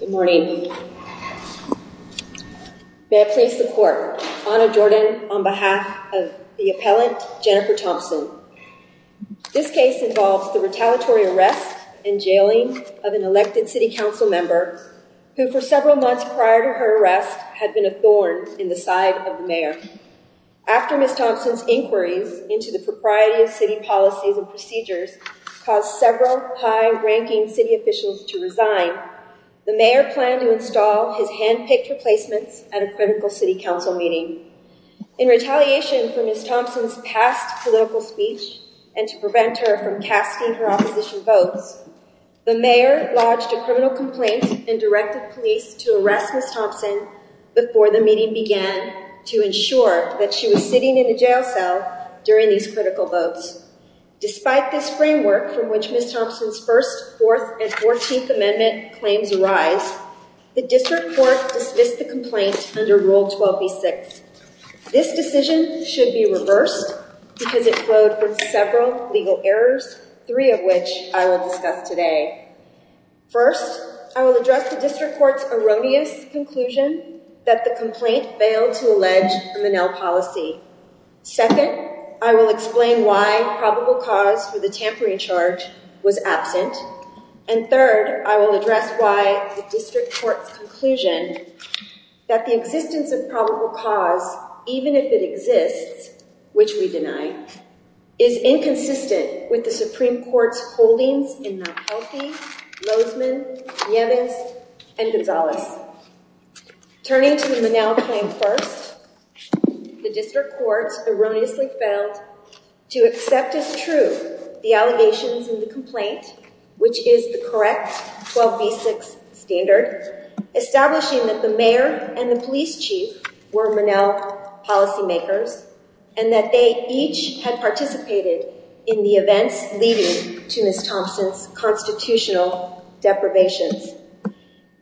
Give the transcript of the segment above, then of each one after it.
Good morning. May I please the court honor Jordan on behalf of the appellant Jennifer Thompson. This case involves the retaliatory arrest and jailing of an elected city council member who for several months prior to her arrest had been a thorn in the side of the mayor. After Ms. Thompson's inquiries into the propriety of city policies and procedures caused several high-ranking city officials to resign, the mayor planned to install his handpicked replacements at a critical city council meeting. In retaliation for Ms. Thompson's past political speech and to prevent her from casting her opposition votes, the mayor lodged a criminal complaint and directed police to arrest Ms. Thompson before the meeting began to ensure that she was sitting in a jail cell during these critical votes. Despite this framework from which Ms. Thompson's first, fourth, and fourteenth amendment claims arise, the district court dismissed the complaint under Rule 12b-6. This decision should be reversed because it flowed with several legal errors, three of which I will discuss today. First, I will address the district court's erroneous conclusion that the complaint failed to allege a Manel policy. Second, I will explain why probable cause for the tampering charge was absent. And third, I will address why the district court's conclusion that the existence of probable cause, even if it exists, which we is inconsistent with the Supreme Court's holdings in Mount Healthy, Lozeman, Yemez, and Gonzalez. Turning to the Manel claim first, the district court erroneously failed to accept as true the allegations in the complaint, which is the correct 12b-6 standard, establishing that the and the police chief were Manel policymakers and that they each had participated in the events leading to Ms. Thompson's constitutional deprivations.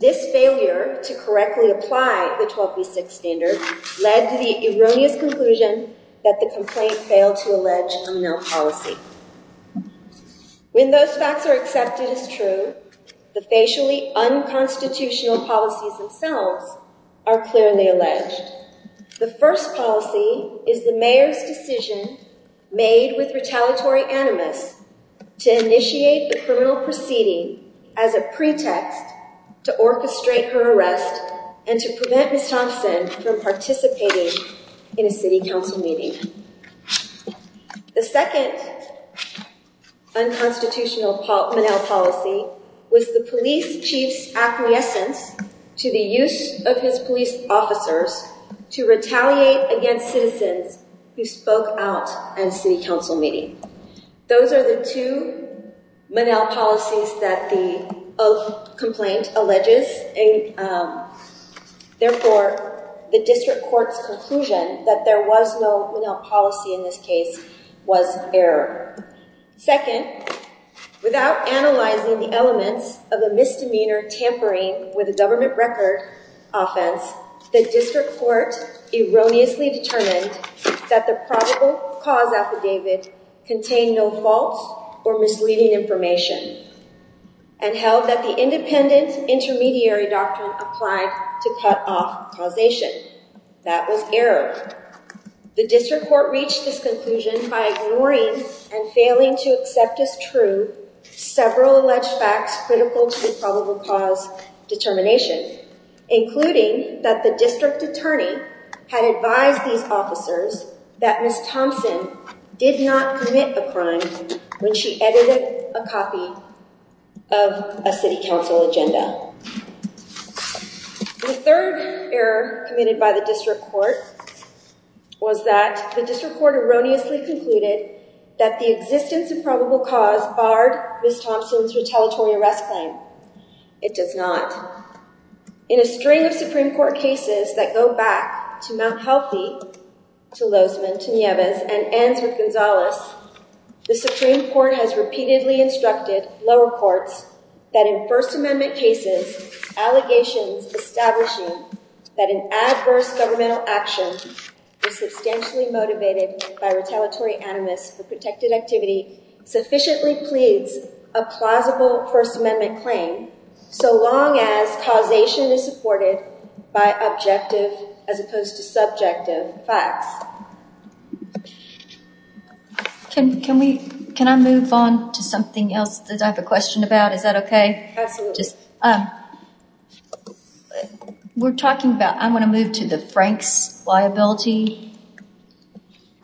This failure to correctly apply the 12b-6 standard led to the erroneous conclusion that the complaint failed to allege a Manel policy. When those facts are accepted as true, the facially unconstitutional policies themselves are clearly alleged. The first policy is the mayor's decision made with retaliatory animus to initiate the criminal proceeding as a pretext to orchestrate her arrest and to prevent Ms. Thompson from participating in a city council meeting. The second unconstitutional Manel policy was the police chief's acquiescence to the use of his police officers to retaliate against citizens who spoke out at a city council meeting. Those are the two Manel policies that the complaint alleges. Therefore, the district court's conclusion that there was no Manel policy in this was error. Second, without analyzing the elements of a misdemeanor tampering with a government record offense, the district court erroneously determined that the probable cause affidavit contained no false or misleading information and held that the independent intermediary doctrine applied to cut off causation. That was error. The district court reached this conclusion by ignoring and failing to accept as true several alleged facts critical to the probable cause determination, including that the district attorney had advised these officers that Ms. Thompson did not commit a crime when she edited a copy of a city council agenda. The third error committed by the district court was that the district court erroneously concluded that the existence of probable cause barred Ms. Thompson's retaliatory arrest claim. It does not. In a string of Supreme Court cases that go back to Mount Healthy, to Lozeman, to Nieves, and ends with Gonzalez, the Supreme Court has repeatedly instructed lower courts that in First Amendment cases, allegations establishing that an adverse governmental action is substantially motivated by retaliatory animus for protected activity sufficiently pleads a plausible First Amendment claim so long as causation is supported by objective as opposed to subjective facts. Can I move on to something else that I have a question about? Is that okay? Absolutely. We're talking about, I want to move to the Frank's liability.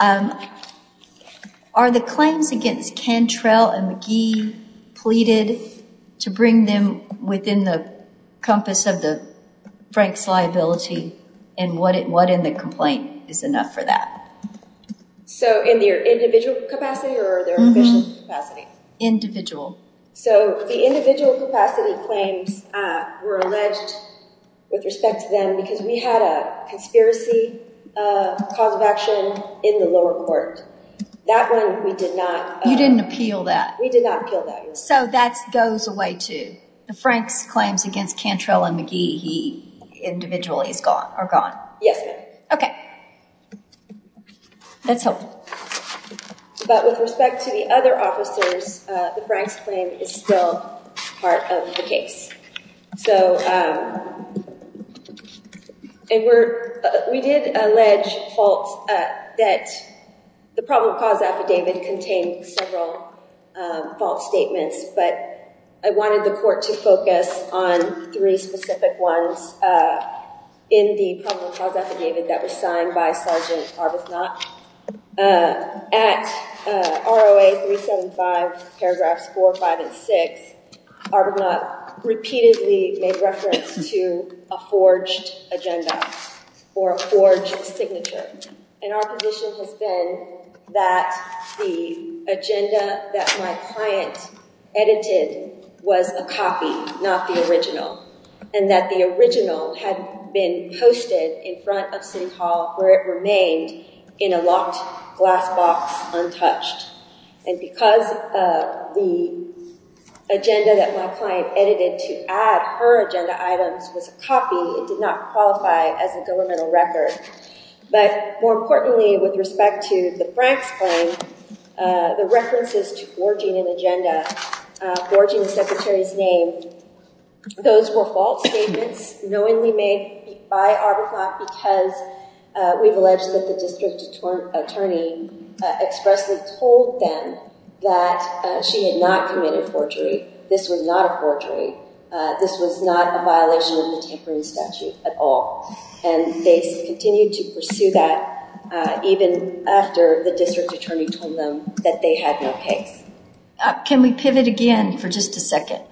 Are the claims against Cantrell and McGee pleaded to bring them within the compass of the Frank's liability and what in the complaint is enough for that? So in their individual capacity or their official capacity? Individual. So the individual capacity claims were alleged with respect to them because we had a conspiracy cause of action in the lower court. That one we did not- You didn't appeal that. We did not appeal that. So that goes away too. The Frank's claims against Cantrell and McGee, he individually is gone, are gone. Yes ma'am. Okay. That's helpful. But with respect to the other officers, the Frank's claim is still part of the case. We did allege faults that the problem cause affidavit contained several fault statements, but I wanted the court to focus on three specific ones in the problem cause affidavit that was Arbuthnot. At ROA 375, paragraphs four, five, and six, Arbuthnot repeatedly made reference to a forged agenda or a forged signature. And our position has been that the agenda that my client edited was a copy, not the original. And that the original had been posted in front of city hall where it remained in a locked glass box untouched. And because of the agenda that my client edited to add her agenda items was a copy, it did not qualify as a governmental record. But more importantly, with respect to the Frank's claim, the references to forging an agenda, forging the secretary's name, those were fault statements knowingly made by Arbuthnot because we've alleged that the district attorney expressly told them that she had not committed forgery. This was not a forgery. This was not a violation of the tampering statute at all. And they continued to pursue that even after the district attorney told them that they had no case. Can we pivot again for just a second?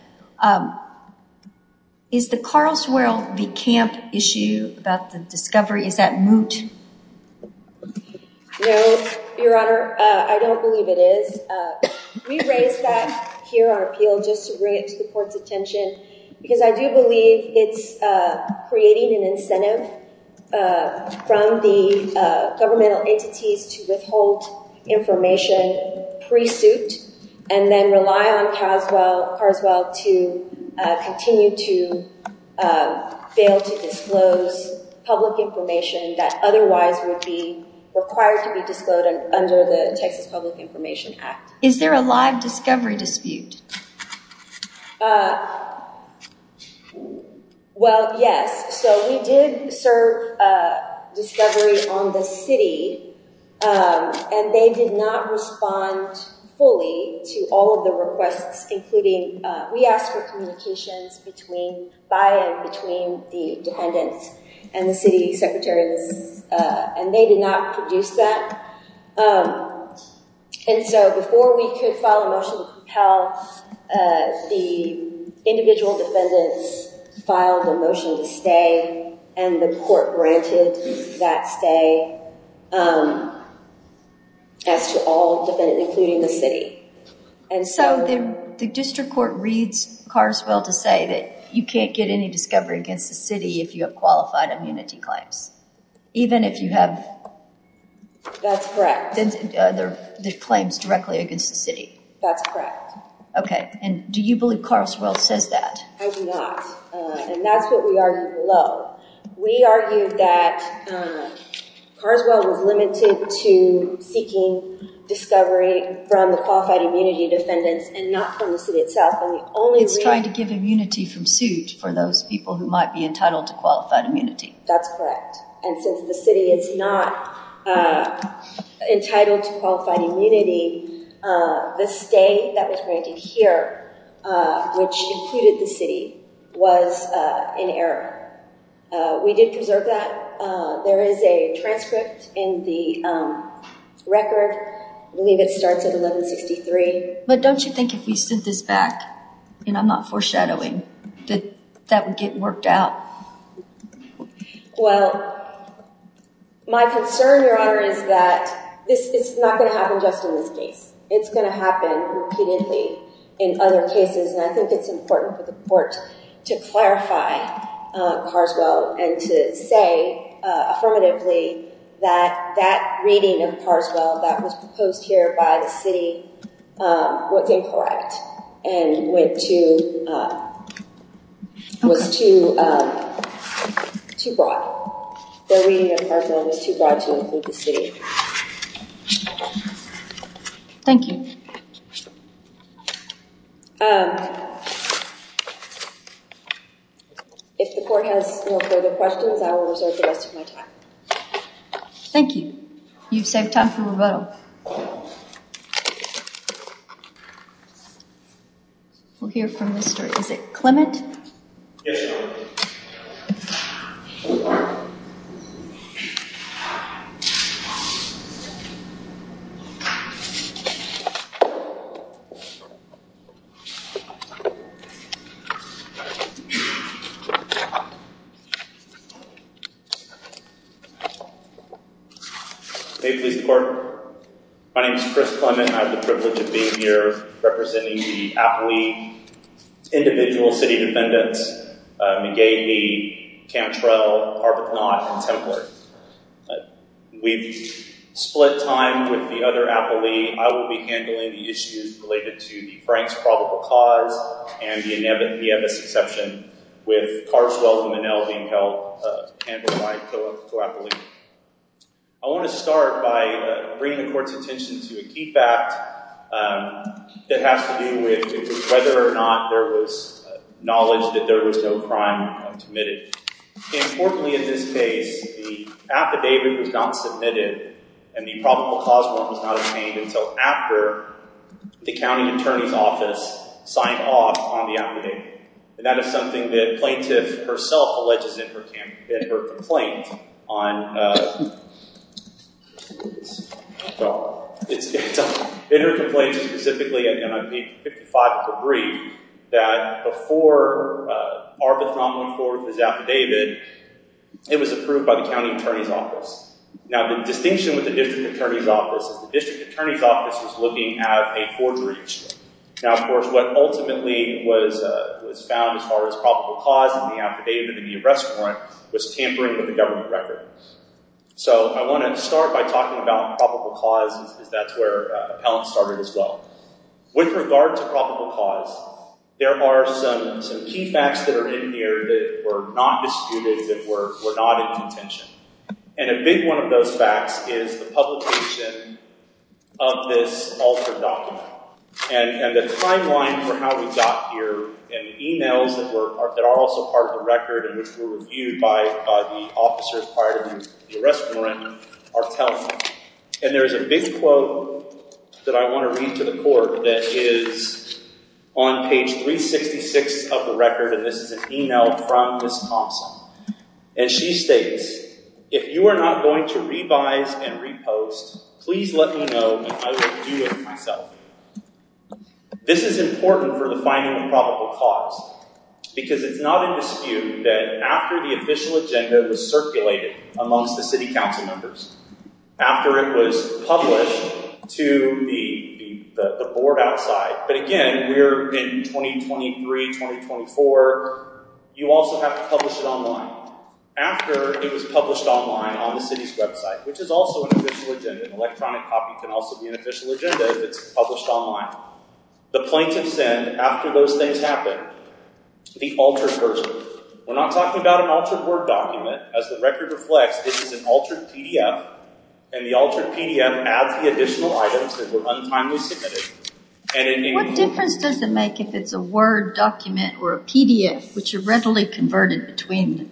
Is the Carlswell v. Camp issue about the discovery, is that moot? No, your honor. I don't believe it is. We raised that here on appeal just to bring it to the court's attention because I do believe it's creating an incentive from the governmental entities to withhold information pre-suit and then rely on Carswell to continue to fail to disclose public information that otherwise would be required to be disclosed under the Texas Public Information Act. Is there a live discovery dispute? Well, yes. So we did serve a discovery on the city and they did not respond fully to all of the requests. We asked for communications by and between the defendants and the city secretaries and they did not produce that. And so before we could file a motion to propel, the individual defendants filed a motion to stay and the court granted that stay as to all defendants, including the city. And so the district court reads Carlswell to say that you can't get any discovery against the city if you have qualified immunity claims, even if you have- That's correct. The claims directly against the city. That's correct. Okay. And do you believe Carlswell says that? I do not. And that's what we argued below. We argued that Carlswell was limited to seeking discovery from the qualified immunity defendants and not from the city itself. It's trying to give immunity from suit for those people who might be entitled to qualified immunity. That's correct. And since the city is not entitled to qualified immunity, the stay that was granted here, which included the city, was in error. We did preserve that. There is a transcript in the record. I believe it starts at 1163. But don't you think if we sent this back, and I'm not foreshadowing, that that would get worked out? Well, my concern, Your Honor, is that this is not going to happen just in this case. It's going to happen repeatedly in other cases. And I think it's important for the court to clarify Carlswell and to say affirmatively that that reading of Carlswell that was proposed here by the city was incorrect and was too broad. The reading of Carlswell was too broad to include the city. Thank you. If the court has no further questions, I will reserve the rest of my time. Thank you. You've saved time for rebuttal. We'll hear from Mr. Isaac Clement. Yes, Your Honor. May it please the court. My name is Chris Clement. I have the privilege of being here representing the APLEI individual city defendants, McGahey, Cantrell, Arbuthnot, and Templer. We've split time with the other APLEI. I will be handling the issues related to the Frank's probable cause and the Inebus Exception with Carlswell and Monell being handled by co-APLEI. I want to start by bringing the court's attention to a key fact that has to do with whether or not there was knowledge that there was no crime committed. Importantly in this case, the affidavit was not submitted and the probable cause warrant was not obtained until after the county attorney's office signed off on the affidavit. That is something that plaintiff herself alleges in her complaint. In her complaint specifically, I'm going to be 55 to agree that before Arbuthnot was affidavited, it was approved by the county attorney's office. Now the distinction with the district attorney's office is the district attorney's office was looking at a forgery. Now, of course, what ultimately was found as far as probable cause in the affidavit and the arrest warrant was tampering with the government record. So I want to start by talking about probable cause because that's where appellants started as well. With regard to probable cause, there are some key facts that are in here that were not disputed, that were not in contention. And a big one of those facts is the publication of this altered document. And the timeline for how we got here and the emails that are also part of the record and which were reviewed by the officers prior to the arrest warrant are telling. And there's a big quote that I want to read to the court that is on page 366 of the record, and this is an email from Wisconsin. And she states, if you are not going to revise and repost, please let me know and I will do it myself. This is important for the finding of probable cause because it's not in dispute that after the official agenda was circulated amongst the city council members, after it was published to the board outside. But again, we're in 2023-2024. You also have to publish it online. After it was published online on the city's website, which is also an official agenda. An electronic copy can also be an official agenda if it's published online. The plaintiff sent, after those things happened, the altered version. We're not talking about an altered Word document. As the record reflects, this is an altered PDF. And the altered PDF adds the additional items that were untimely submitted. What difference does it make if it's a Word document or a PDF, which are readily converted between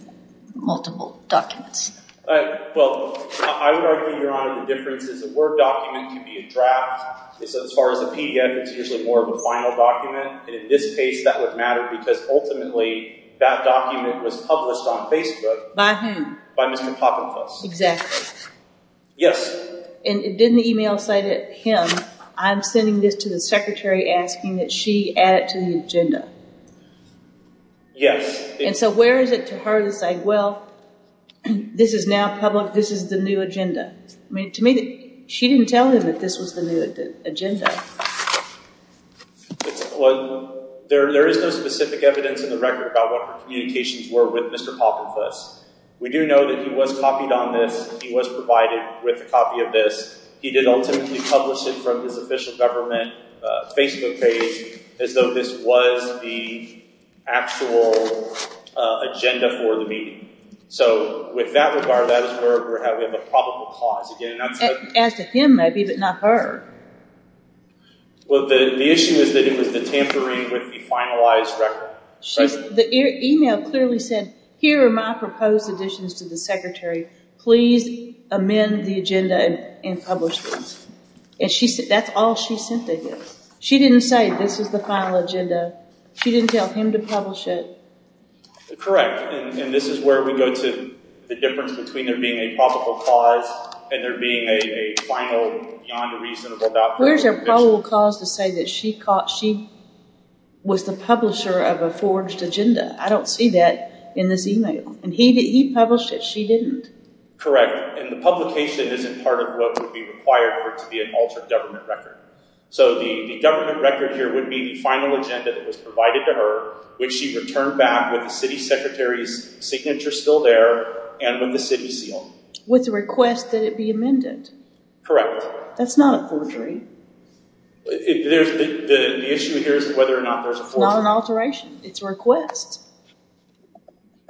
multiple documents? Well, I would argue, Your Honor, the difference is a Word document can be a draft. As far as a PDF, it's usually more of a final document. And in this case, that would matter because ultimately, that document was published on Facebook. By whom? By Mr. Poppenfuss. Exactly. Yes. And it didn't email cited him. I'm sending this to the secretary asking that she add it to the agenda. Yes. And so where is it to her to say, well, this is now public. This is the new agenda. I mean, to me, she didn't tell him that this was the new agenda. Well, there is no specific evidence in the record about what her communications were with Mr. Poppenfuss. We do know that he was copied on this. He was provided with a copy of this. He did ultimately publish it from his official government Facebook page as though this was the actual agenda for the meeting. So with that regard, that is where we're having a probable cause. As to him, maybe, but not her. Well, the issue is that it was the tampering with the finalized record. The email clearly said, here are my proposed additions to the secretary. Please amend the agenda and publish this. That's all she sent to him. She didn't say this is the final agenda. She didn't tell him to publish it. Correct. And this is where we go to the difference between there being a probable cause and there being a final, beyond a reasonable doubt. Where's your probable cause to say that she was the publisher of a forged agenda? I don't see that in this email. And he published it. She didn't. Correct. And the publication isn't part of what would be required of her to be an altered government record. So the government record here would be the final agenda that was provided to her, which she returned back with the city secretary's signature still there and with the city seal. With the request that it be amended. That's not a forgery. The issue here is whether or not there's a forgery. Not an alteration. It's a request.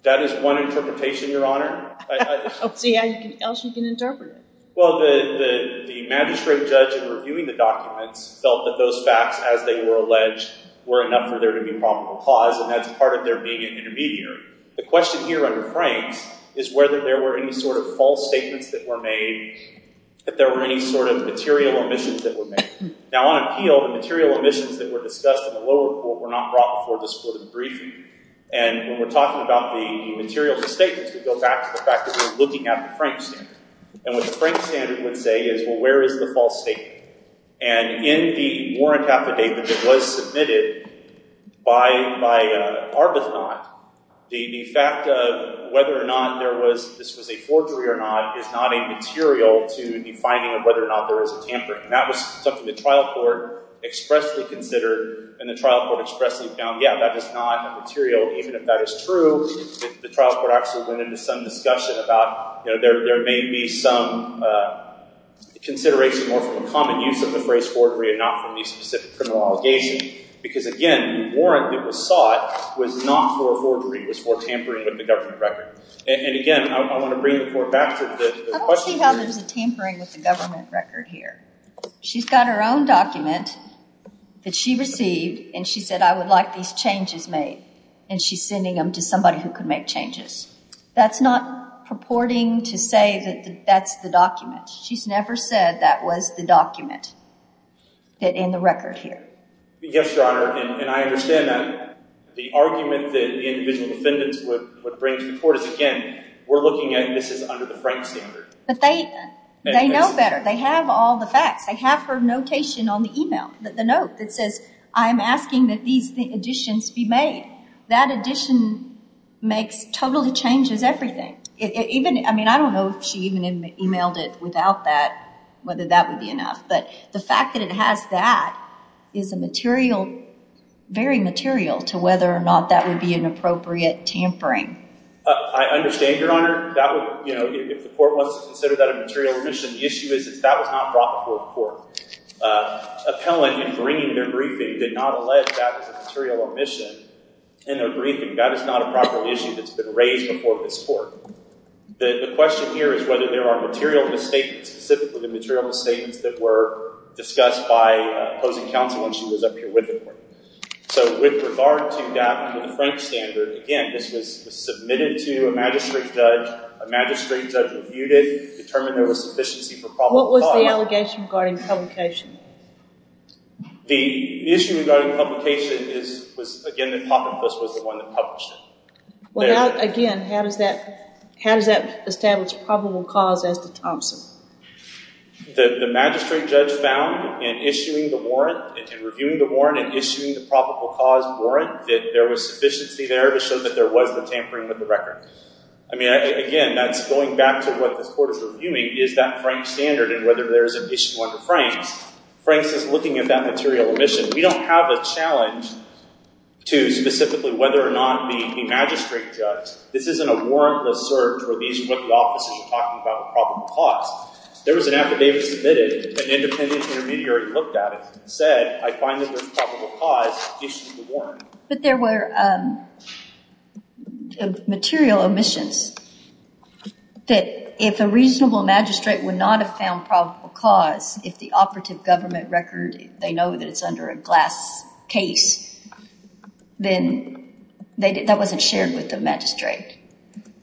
That is one interpretation, Your Honor. Let's see how else you can interpret it. Well, the magistrate judge, in reviewing the documents, felt that those facts, as they were alleged, were enough for there to be a probable cause. And that's part of there being an intermediary. The question here under Frank's is whether there were any sort of false statements that were made, that there were any sort of material omissions that were made. Now, on appeal, the material omissions that were discussed in the lower court were not brought before the Supreme Court in the briefing. And when we're talking about the material misstatements, we go back to the fact that we're looking at the Frank standard. And what the Frank standard would say is, well, where is the false statement? And in the warrant affidavit that was submitted by Arbuthnot, the fact of whether or not this was a forgery or not is not a material to the finding of whether or not there is a tampering. And that was something the trial court expressly considered. And the trial court expressly found, yeah, that is not a material, even if that is true. The trial court actually went into some discussion about, you know, there may be some consideration more from a common use of the phrase forgery and not from a specific criminal allegation. Because again, the warrant that was sought was not for forgery. It was for tampering with the government record. And again, I want to bring the court back to the question. I don't see how there's a tampering with the government record here. She's got her own document that she received. And she said, I would like these changes made. And she's sending them to somebody who can make changes. That's not purporting to say that that's the document. She's never said that was the document in the record here. Yes, Your Honor. And I understand that. The argument that the individual defendants would bring to the court is, again, we're looking at this as under the Frank standard. But they know better. They have all the facts. They have her notation on the email, the note that says, I'm asking that these additions be made. That addition makes, totally changes everything. Even, I mean, I don't know if she even emailed it without that, whether that would be enough. But the fact that it has that is a material, very material to whether or not that would be an appropriate tampering. I understand, Your Honor. That would, you know, if the court wants to consider that a material remission, the issue is that was not brought before the court. Appellant in bringing their briefing did not allege that was a material remission in their briefing. That is not a raised before this court. The question here is whether there are material misstatements, specifically the material misstatements that were discussed by opposing counsel when she was up here with the court. So with regard to that, to the Frank standard, again, this was submitted to a magistrate judge. A magistrate judge reviewed it, determined there was sufficiency for probable cause. What was the allegation regarding publication? The issue regarding publication is, was, again, that Poppifus was the one that published it. Well, again, how does that establish probable cause as to Thompson? The magistrate judge found in issuing the warrant, in reviewing the warrant and issuing the probable cause warrant, that there was sufficiency there to show that there was the tampering with the record. I mean, again, that's going back to what this court is reviewing. Is that Frank standard and whether there is an issue under Frank's? Frank's is looking at that material omission. We don't have a challenge to specifically whether or not the magistrate judge, this isn't a warrantless search where these are what the officers are talking about the probable cause. There was an affidavit submitted, an independent intermediary looked at it and said, I find that there's probable cause, issue the warrant. But there were material omissions that if a reasonable magistrate would not have found probable cause, if the operative government record, they know that it's under a glass case, then that wasn't shared with the magistrate.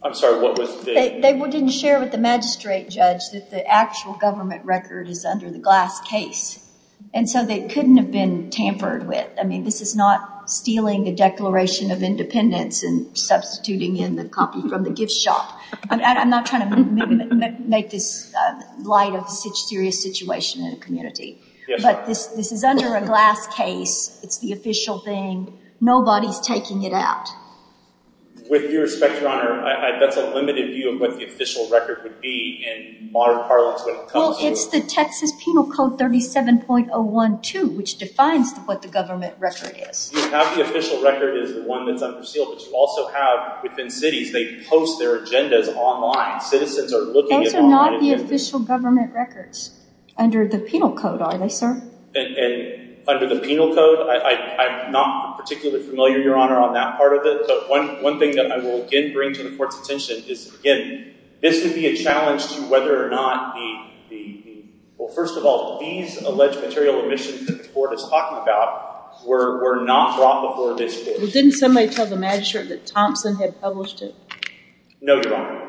I'm sorry, what was the... They didn't share with the magistrate judge that the actual government record is under the glass case. And so they couldn't have been tampered with. I mean, this is not stealing the Declaration of Independence and substituting in the copy from the gift shop. I'm not trying to make this light of a serious situation in a community, but this is under a glass case. It's the official thing. Nobody's taking it out. With due respect, Your Honor, that's a limited view of what the official record would be in modern parlance. Well, it's the Texas Penal Code 37.01.2, which defines what the government record is. You have the official record is the one that's under seal, but you also have within cities, they post their agendas online. Citizens are looking online. Those are not the official government records under the Penal Code, are they, sir? Under the Penal Code, I'm not particularly familiar, Your Honor, on that part of it, but one thing that I will again bring to the court's attention is, again, this would be a challenge to whether or not the... Well, first of all, these alleged material omissions that the court is talking about were not brought before this court. Well, didn't somebody tell the court that Thompson had published it? No, Your Honor.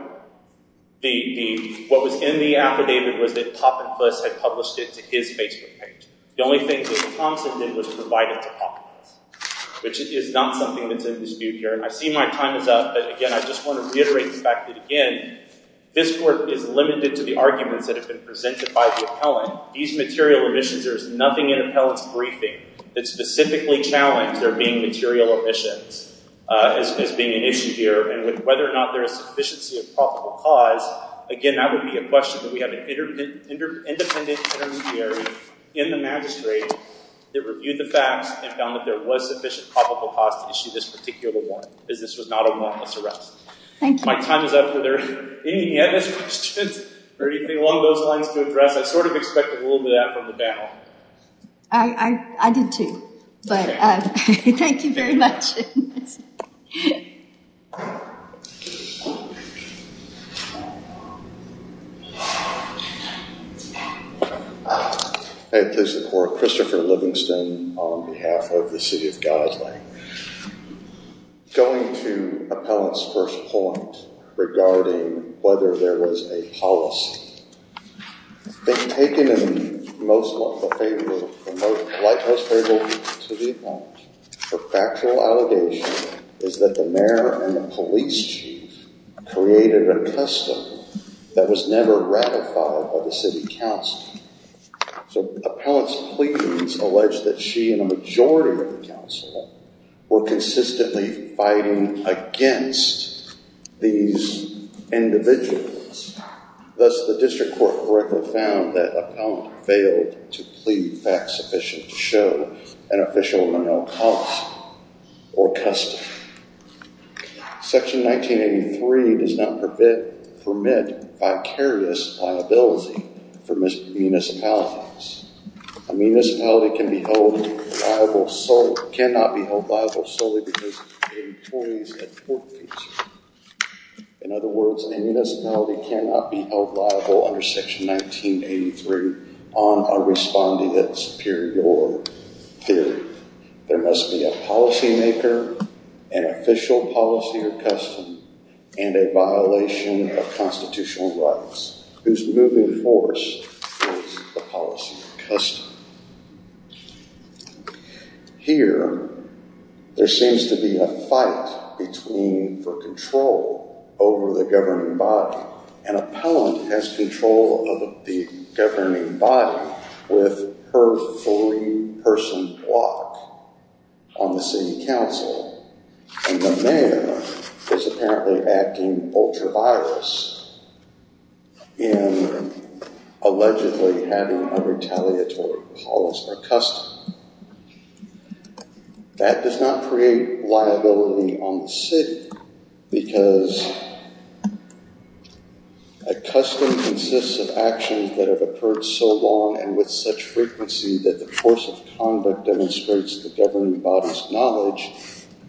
What was in the affidavit was that Poppinfuss had published it to his Facebook page. The only thing that Thompson did was provide it to Poppinfuss, which is not something that's in dispute here. I see my time is up, but again, I just want to reiterate the fact that, again, this court is limited to the arguments that have been presented by the appellant. These material omissions, there is nothing in appellant's challenge, there being material omissions as being an issue here, and whether or not there is sufficiency of probable cause, again, that would be a question that we have an independent intermediary in the magistrate that reviewed the facts and found that there was sufficient probable cause to issue this particular warrant, because this was not a wantless arrest. Thank you. My time is up. Whether there are any other questions or anything along those lines to address, I sort of expect a little bit of that in the battle. I did too, but thank you very much. Hey, this is Christopher Livingston on behalf of the City of Gosling. Going to appellant's first point regarding whether there was a policy, it's been taken in most light, most favorably to the appellant. Her factual allegation is that the mayor and the police chief created a custom that was never ratified by the city council. So appellant's pleadings allege that she and a majority of the council were consistently fighting against these individuals. Thus, the district court correctly found that appellant failed to plead facts sufficient to show an official nominal cost or custom. Section 1983 does not permit vicarious liability for municipalities. A municipality can be held liable solely, cannot be held liable solely because of employees at court. In other words, a municipality cannot be held liable under section 1983 on a respondent superior theory. There must be a policymaker, an official policy or custom, and a violation of constitutional rights whose moving force is the policy or custom. Here, there seems to be a fight between, for control over the governing body. An appellant has control of the governing body with her three-person block on the city council, and the mayor is apparently acting ultra-virus in allegedly having a retaliatory policy custom. That does not create liability on the city because a custom consists of actions that have occurred so long and with such frequency that the force of conduct demonstrates the governing body's knowledge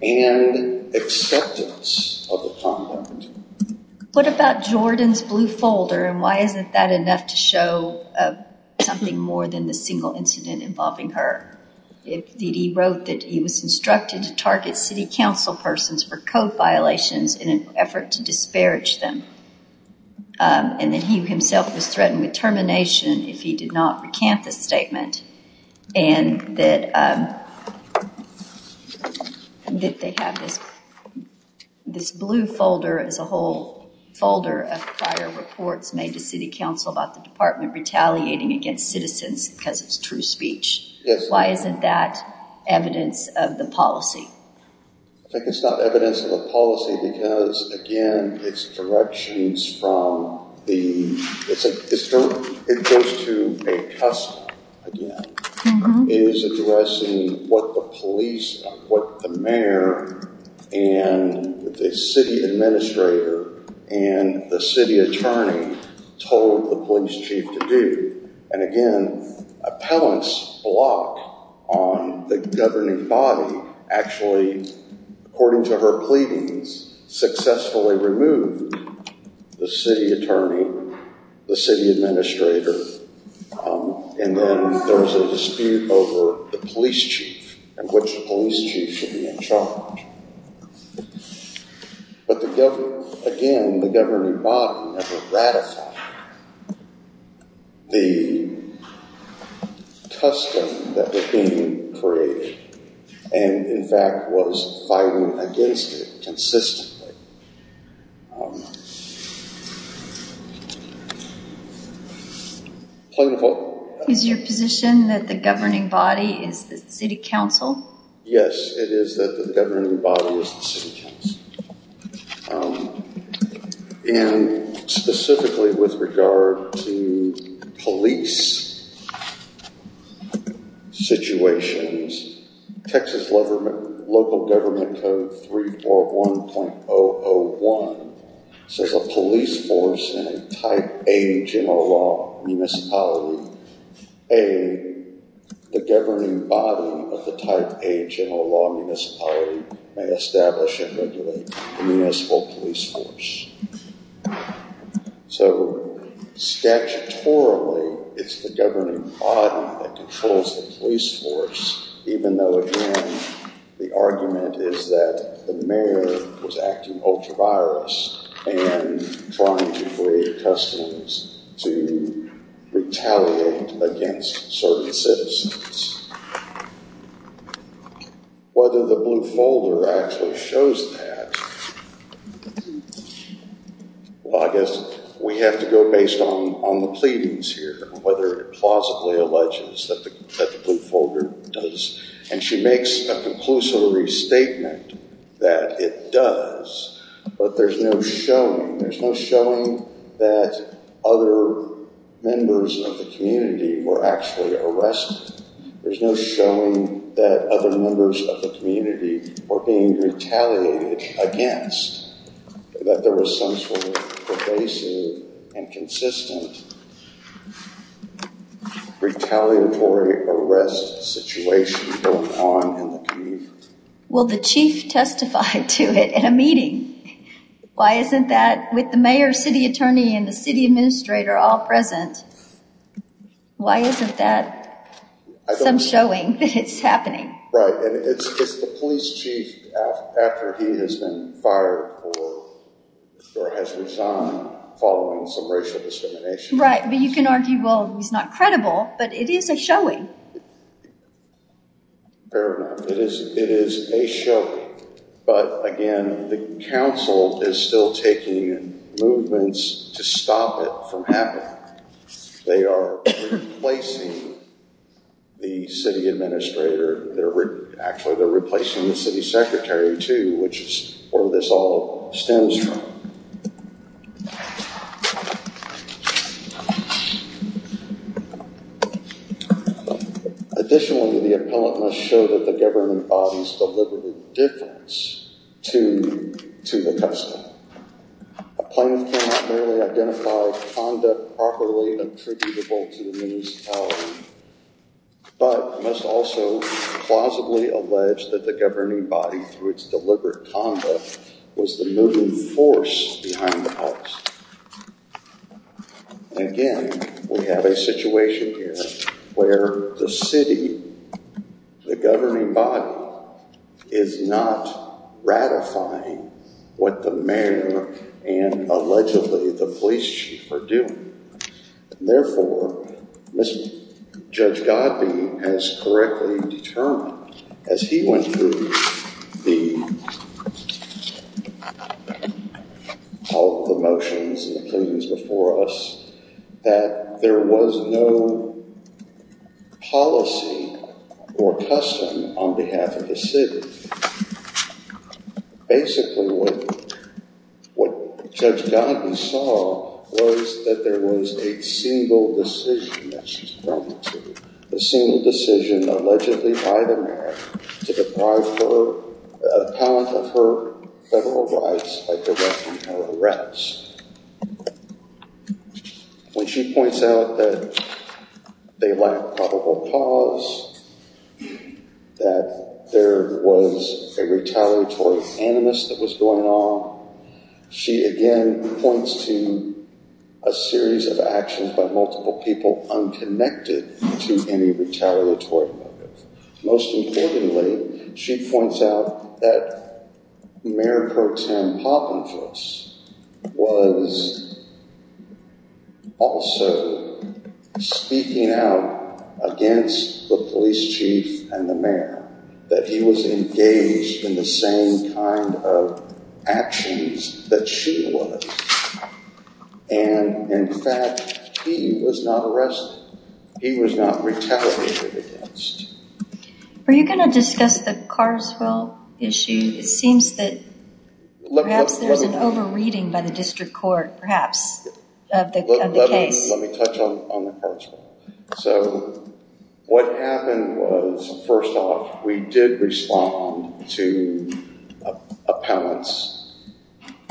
and acceptance of the conduct. What about Jordan's blue folder, and why isn't that enough to show something more than the single incident involving her? He wrote that he was instructed to target city council persons for code violations in an effort to disparage them, and that he himself was threatened with termination if he did not and that they have this blue folder as a whole folder of prior reports made to city council about the department retaliating against citizens because it's true speech. Yes. Why isn't that evidence of the policy? I think it's not evidence of a policy because again, it's directions from the, it goes to a custom again. It is addressing what the police, what the mayor, and the city administrator, and the city attorney told the police chief to do. And again, appellant's block on the governing body actually, according to her pleadings, successfully removed the city attorney, the city administrator, and then there was a dispute over the police chief and which police chief should be in charge. But again, the governing body never ratified the custom that was being created, and in fact was fighting against it consistently. Is your position that the governing body is the city council? Yes, it is that the governing body is the city council. And specifically with regard to police situations, Texas local government code 341.001 says a police force in a type A general law municipality, A, the governing body of the type A general law municipality may establish and regulate the municipal police force. So statutorily, it's the governing body that controls the police force, even though again, the argument is that the mayor was acting ultra-virus and trying to create customs to retaliate against certain citizens. Whether the blue folder actually shows that, well, I guess we have to go based on the pleadings here, whether it plausibly alleges that the blue folder does, and she makes a conclusive restatement that it does, but there's no showing. There's no showing that other members of the community were actually arrested. There's no showing that other members of the community were being retaliated against, that there was some sort of pervasive and consistent retaliatory arrest situation going on in the community. Well, the chief testified to it in a meeting. Why isn't that with the mayor, city attorney, and the city administrator all present? Why isn't that some showing that it's happening? Right, and it's the police chief after he has been fired or has resigned following some racial discrimination. Right, but you can argue, well, he's not credible, but it is a showing. Fair enough. It is a showing, but again, the council is still taking movements to stop it from happening. They are replacing the city administrator. They're actually, they're replacing the city secretary too, which is where this all stems from. Additionally, the appellate must show that the government bodies delivered a difference to the custody. A plaintiff cannot merely identify conduct properly attributable to the municipality, but must also plausibly allege that the governing body through its deliberate conduct was the moving force behind the house. Again, we have a situation here where the city, the governing body is not ratifying what the mayor and allegedly the police chief are doing. Therefore, Judge Godbee has correctly determined as he went through the motions and the claims before us that there was no policy or custom on behalf of the city. Basically, what Judge Godbee saw was that there was a single decision that she's going to, a single decision allegedly by the mayor to deprive her appellant of her federal rights. When she points out that they lack probable cause, that there was a retaliatory animus that was going on, she again points to a series of actions by multiple people unconnected to any retaliatory motive. Most importantly, she points out that Mayor Pro Tem Poppinfus was also speaking out against the police chief and the mayor, that he was engaged in the same kind of actions that she was. In fact, he was not arrested. He was not retaliated against. Are you going to discuss the Carswell issue? It seems that perhaps there's an over-reading by the district court, perhaps, of the case. Let me touch on the Carswell. What happened was, first off, we did respond to appellant's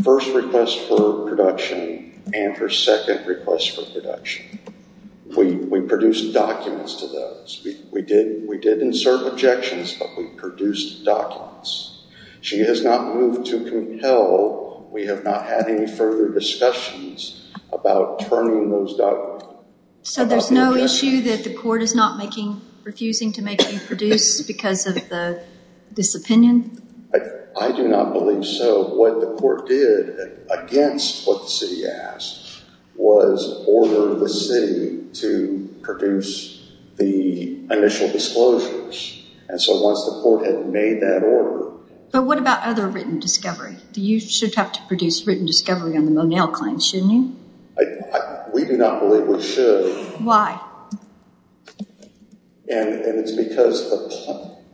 first request for production and her second request for production. We produced documents to those. We did insert objections, but we produced documents. She has not moved to compel. We have not had any further discussions about turning those documents. So there's no issue that the court is not refusing to make you produce because of the disopinion? I do not believe so. What the court did against what the city asked was order the city to produce the initial disclosures. Once the court had made that order... But what about other written discovery? You should have to produce written discovery on the Monell claims, shouldn't you? We do not believe we should. Why? It's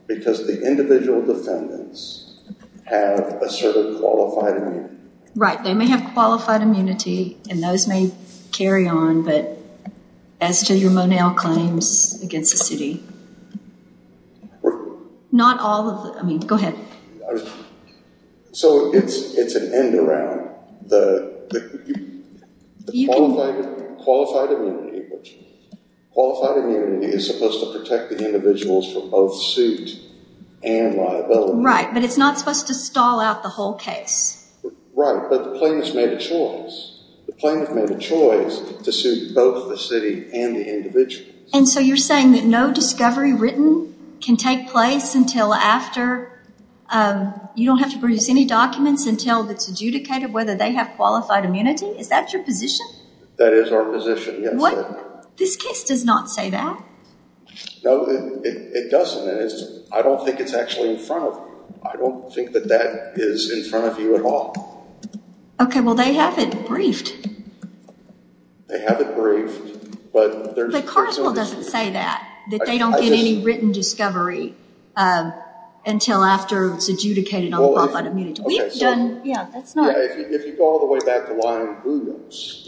because the individual defendants have asserted qualified immunity. Right. They may have qualified immunity and those may carry on, but as to your Monell claims against the city, not all of them. I mean, go ahead. So it's an end around the qualified immunity. Qualified immunity is supposed to protect the individuals from both suit and liability. Right, but it's not supposed to stall out the whole case. Right, but the plaintiff made a choice. The plaintiff made a choice to suit both the city and the individuals. And so you're saying that no discovery written can take place until after... You don't have to produce any documents until it's adjudicated whether they have qualified immunity? Is that your position? That is our position, yes. This case does not say that. No, it doesn't. I don't think it's actually in front of you. I don't think that that is in front of you at all. Okay, well, they have it briefed. They have it briefed, but there's... But Carlswell doesn't say that, that they don't get any written discovery until after it's adjudicated on qualified immunity. We've done... Yeah, that's not... Yeah, if you go all the way back to line boondocks,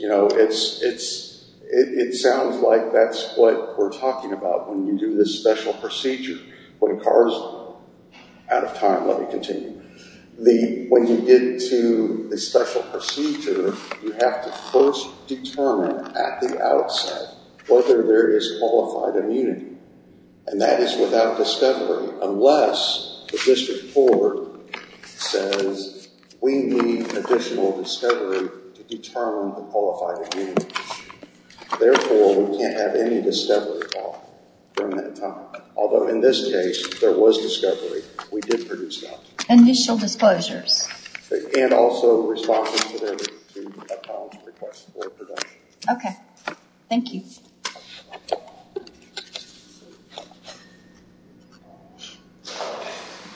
it sounds like that's what we're talking about when you do this special procedure when Carlswell... Out of time, let me continue. When you get to the special procedure, you have to first determine at the outset whether there is qualified immunity. And that is without discovery unless the district court says, we need additional discovery to determine the qualified immunity. Therefore, we can't have any discovery at all during that time. Although in this case, there was discovery. We did produce that. Initial disclosures. And also responses to their request for production. Okay, thank you.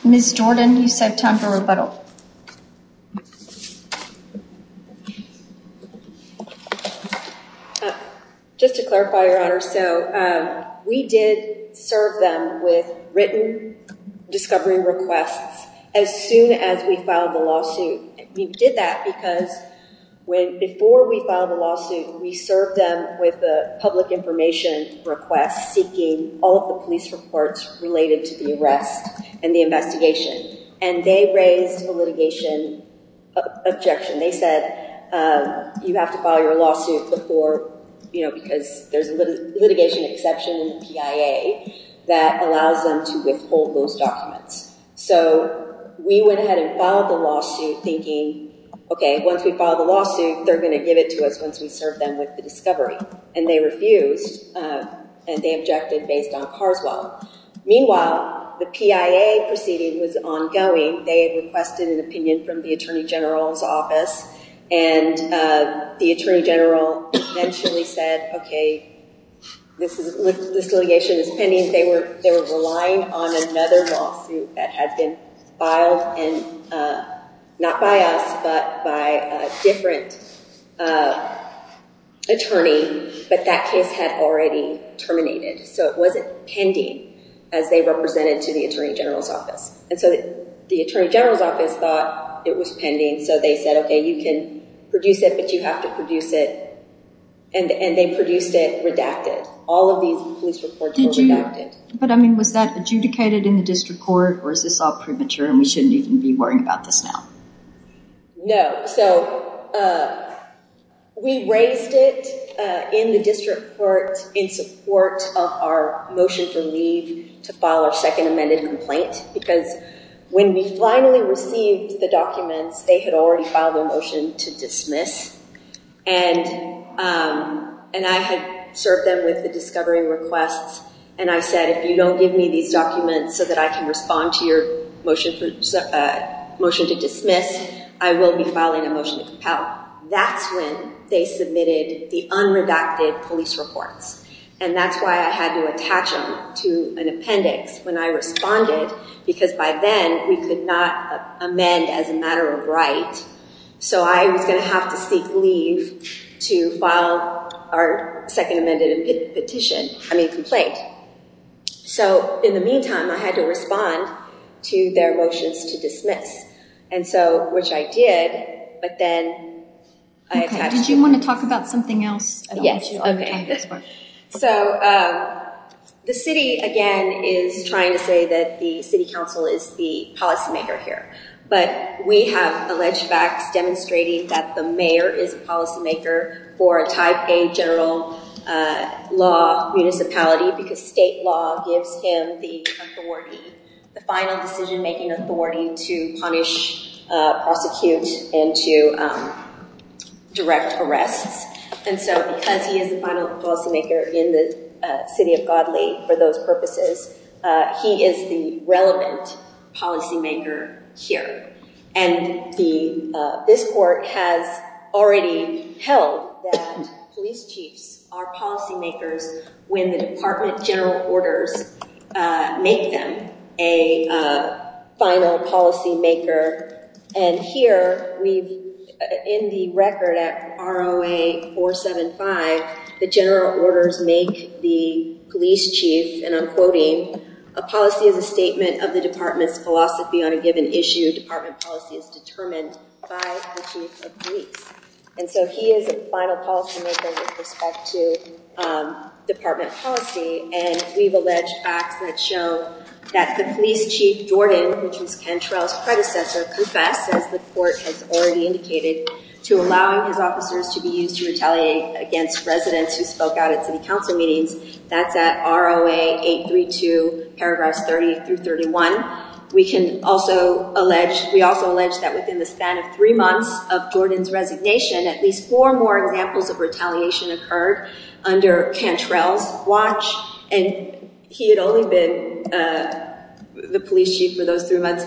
Ms. Jordan, you said time for rebuttal. Just to clarify, Your Honor, so we did serve them with written discovery requests as soon as we filed the lawsuit. We did that because before we filed the lawsuit, we served them with a public information request seeking all of the police reports related to the arrest and the investigation. And they raised a litigation objection. They said, you have to file your lawsuit before... Because there's a litigation exception in the PIA that allows them to withhold those documents. So we went ahead and filed the lawsuit thinking, okay, once we filed the lawsuit, they're going to give it to us once we serve them with the discovery. And they refused. And they objected based on Carswell. Meanwhile, the PIA proceeding was ongoing. They had requested an opinion from the Attorney General's office. And the Attorney General eventually said, okay, this litigation is pending. They were relying on another lawsuit that has been filed and not by us, but by a different attorney, but that case had already terminated. So it wasn't pending as they represented to the Attorney General's office. And so the Attorney General's office thought it was pending. So they said, okay, you can produce it, but you have to produce it. And they produced it redacted. All of these police reports were redacted. But I mean, was that adjudicated in the district court or is this all premature and we shouldn't even be worrying about this now? No. So we raised it in the district court in support of our motion for leave to file our second amended complaint, because when we finally received the documents, they had already filed a motion to dismiss. And I had served them with discovery requests. And I said, if you don't give me these documents so that I can respond to your motion to dismiss, I will be filing a motion to compel. That's when they submitted the unredacted police reports. And that's why I had to attach them to an appendix when I responded, because by then we could not amend as a matter of right. So I was going to have to seek leave to file our second amended petition, I mean, complaint. So in the meantime, I had to respond to their motions to dismiss. And so, which I did, but then I attached- Did you want to talk about something else? Yes. So the city, again, is trying to say that the city council is the policymaker here, but we have alleged facts demonstrating that the mayor is a policymaker for a Taipei general law municipality, because state law gives him the authority, the final decision-making authority, to punish, prosecute, and to direct arrests. And so because he is the final policymaker in the city of Godly for those purposes, he is the relevant policymaker here. And this court has already held that police chiefs are policymakers when the department general orders make them a final policymaker. And here, in the record at ROA 475, the general orders make the police chief, and I'm quoting, a policy is a statement of the department's philosophy on a given issue. Department policy is determined by the chief of police. And so he is a final policymaker with respect to department policy. And we've alleged facts that show that the police chief, Jordan, which was Ken Trowell's predecessor, confessed, as the court has already indicated, to allowing his officers to be used to retaliate against residents who spoke out at city council meetings. That's at ROA 832, paragraphs 30 through 31. We also allege that within the span of three months of Jordan's resignation, at least four more examples of retaliation occurred under Ken Trowell's watch, and he had only been the police chief for those three months.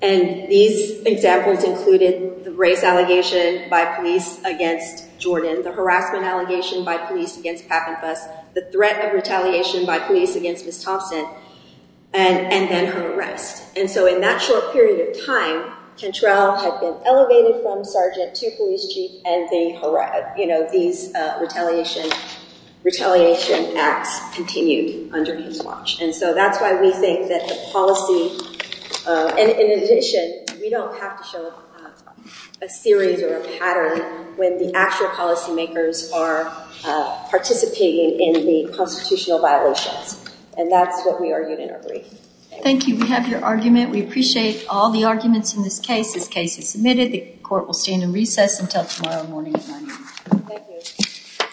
And these examples included the race allegation by police against Jordan, the harassment allegation by police against Papin Fuss, the threat of retaliation by police against Ms. Thompson, and then her arrest. And so in that short period of time, Ken Trowell had been elevated from sergeant to police chief, and these retaliation acts continued under his watch. And so that's why we think that the policy, and in addition, we don't have to show a series or a pattern when the actual policymakers are participating in the constitutional violations. And that's what we argued in our brief. Thank you. We have your argument. We appreciate all the arguments in this case. This case is submitted. The court will stand in recess until tomorrow morning at 9 a.m. Thank you.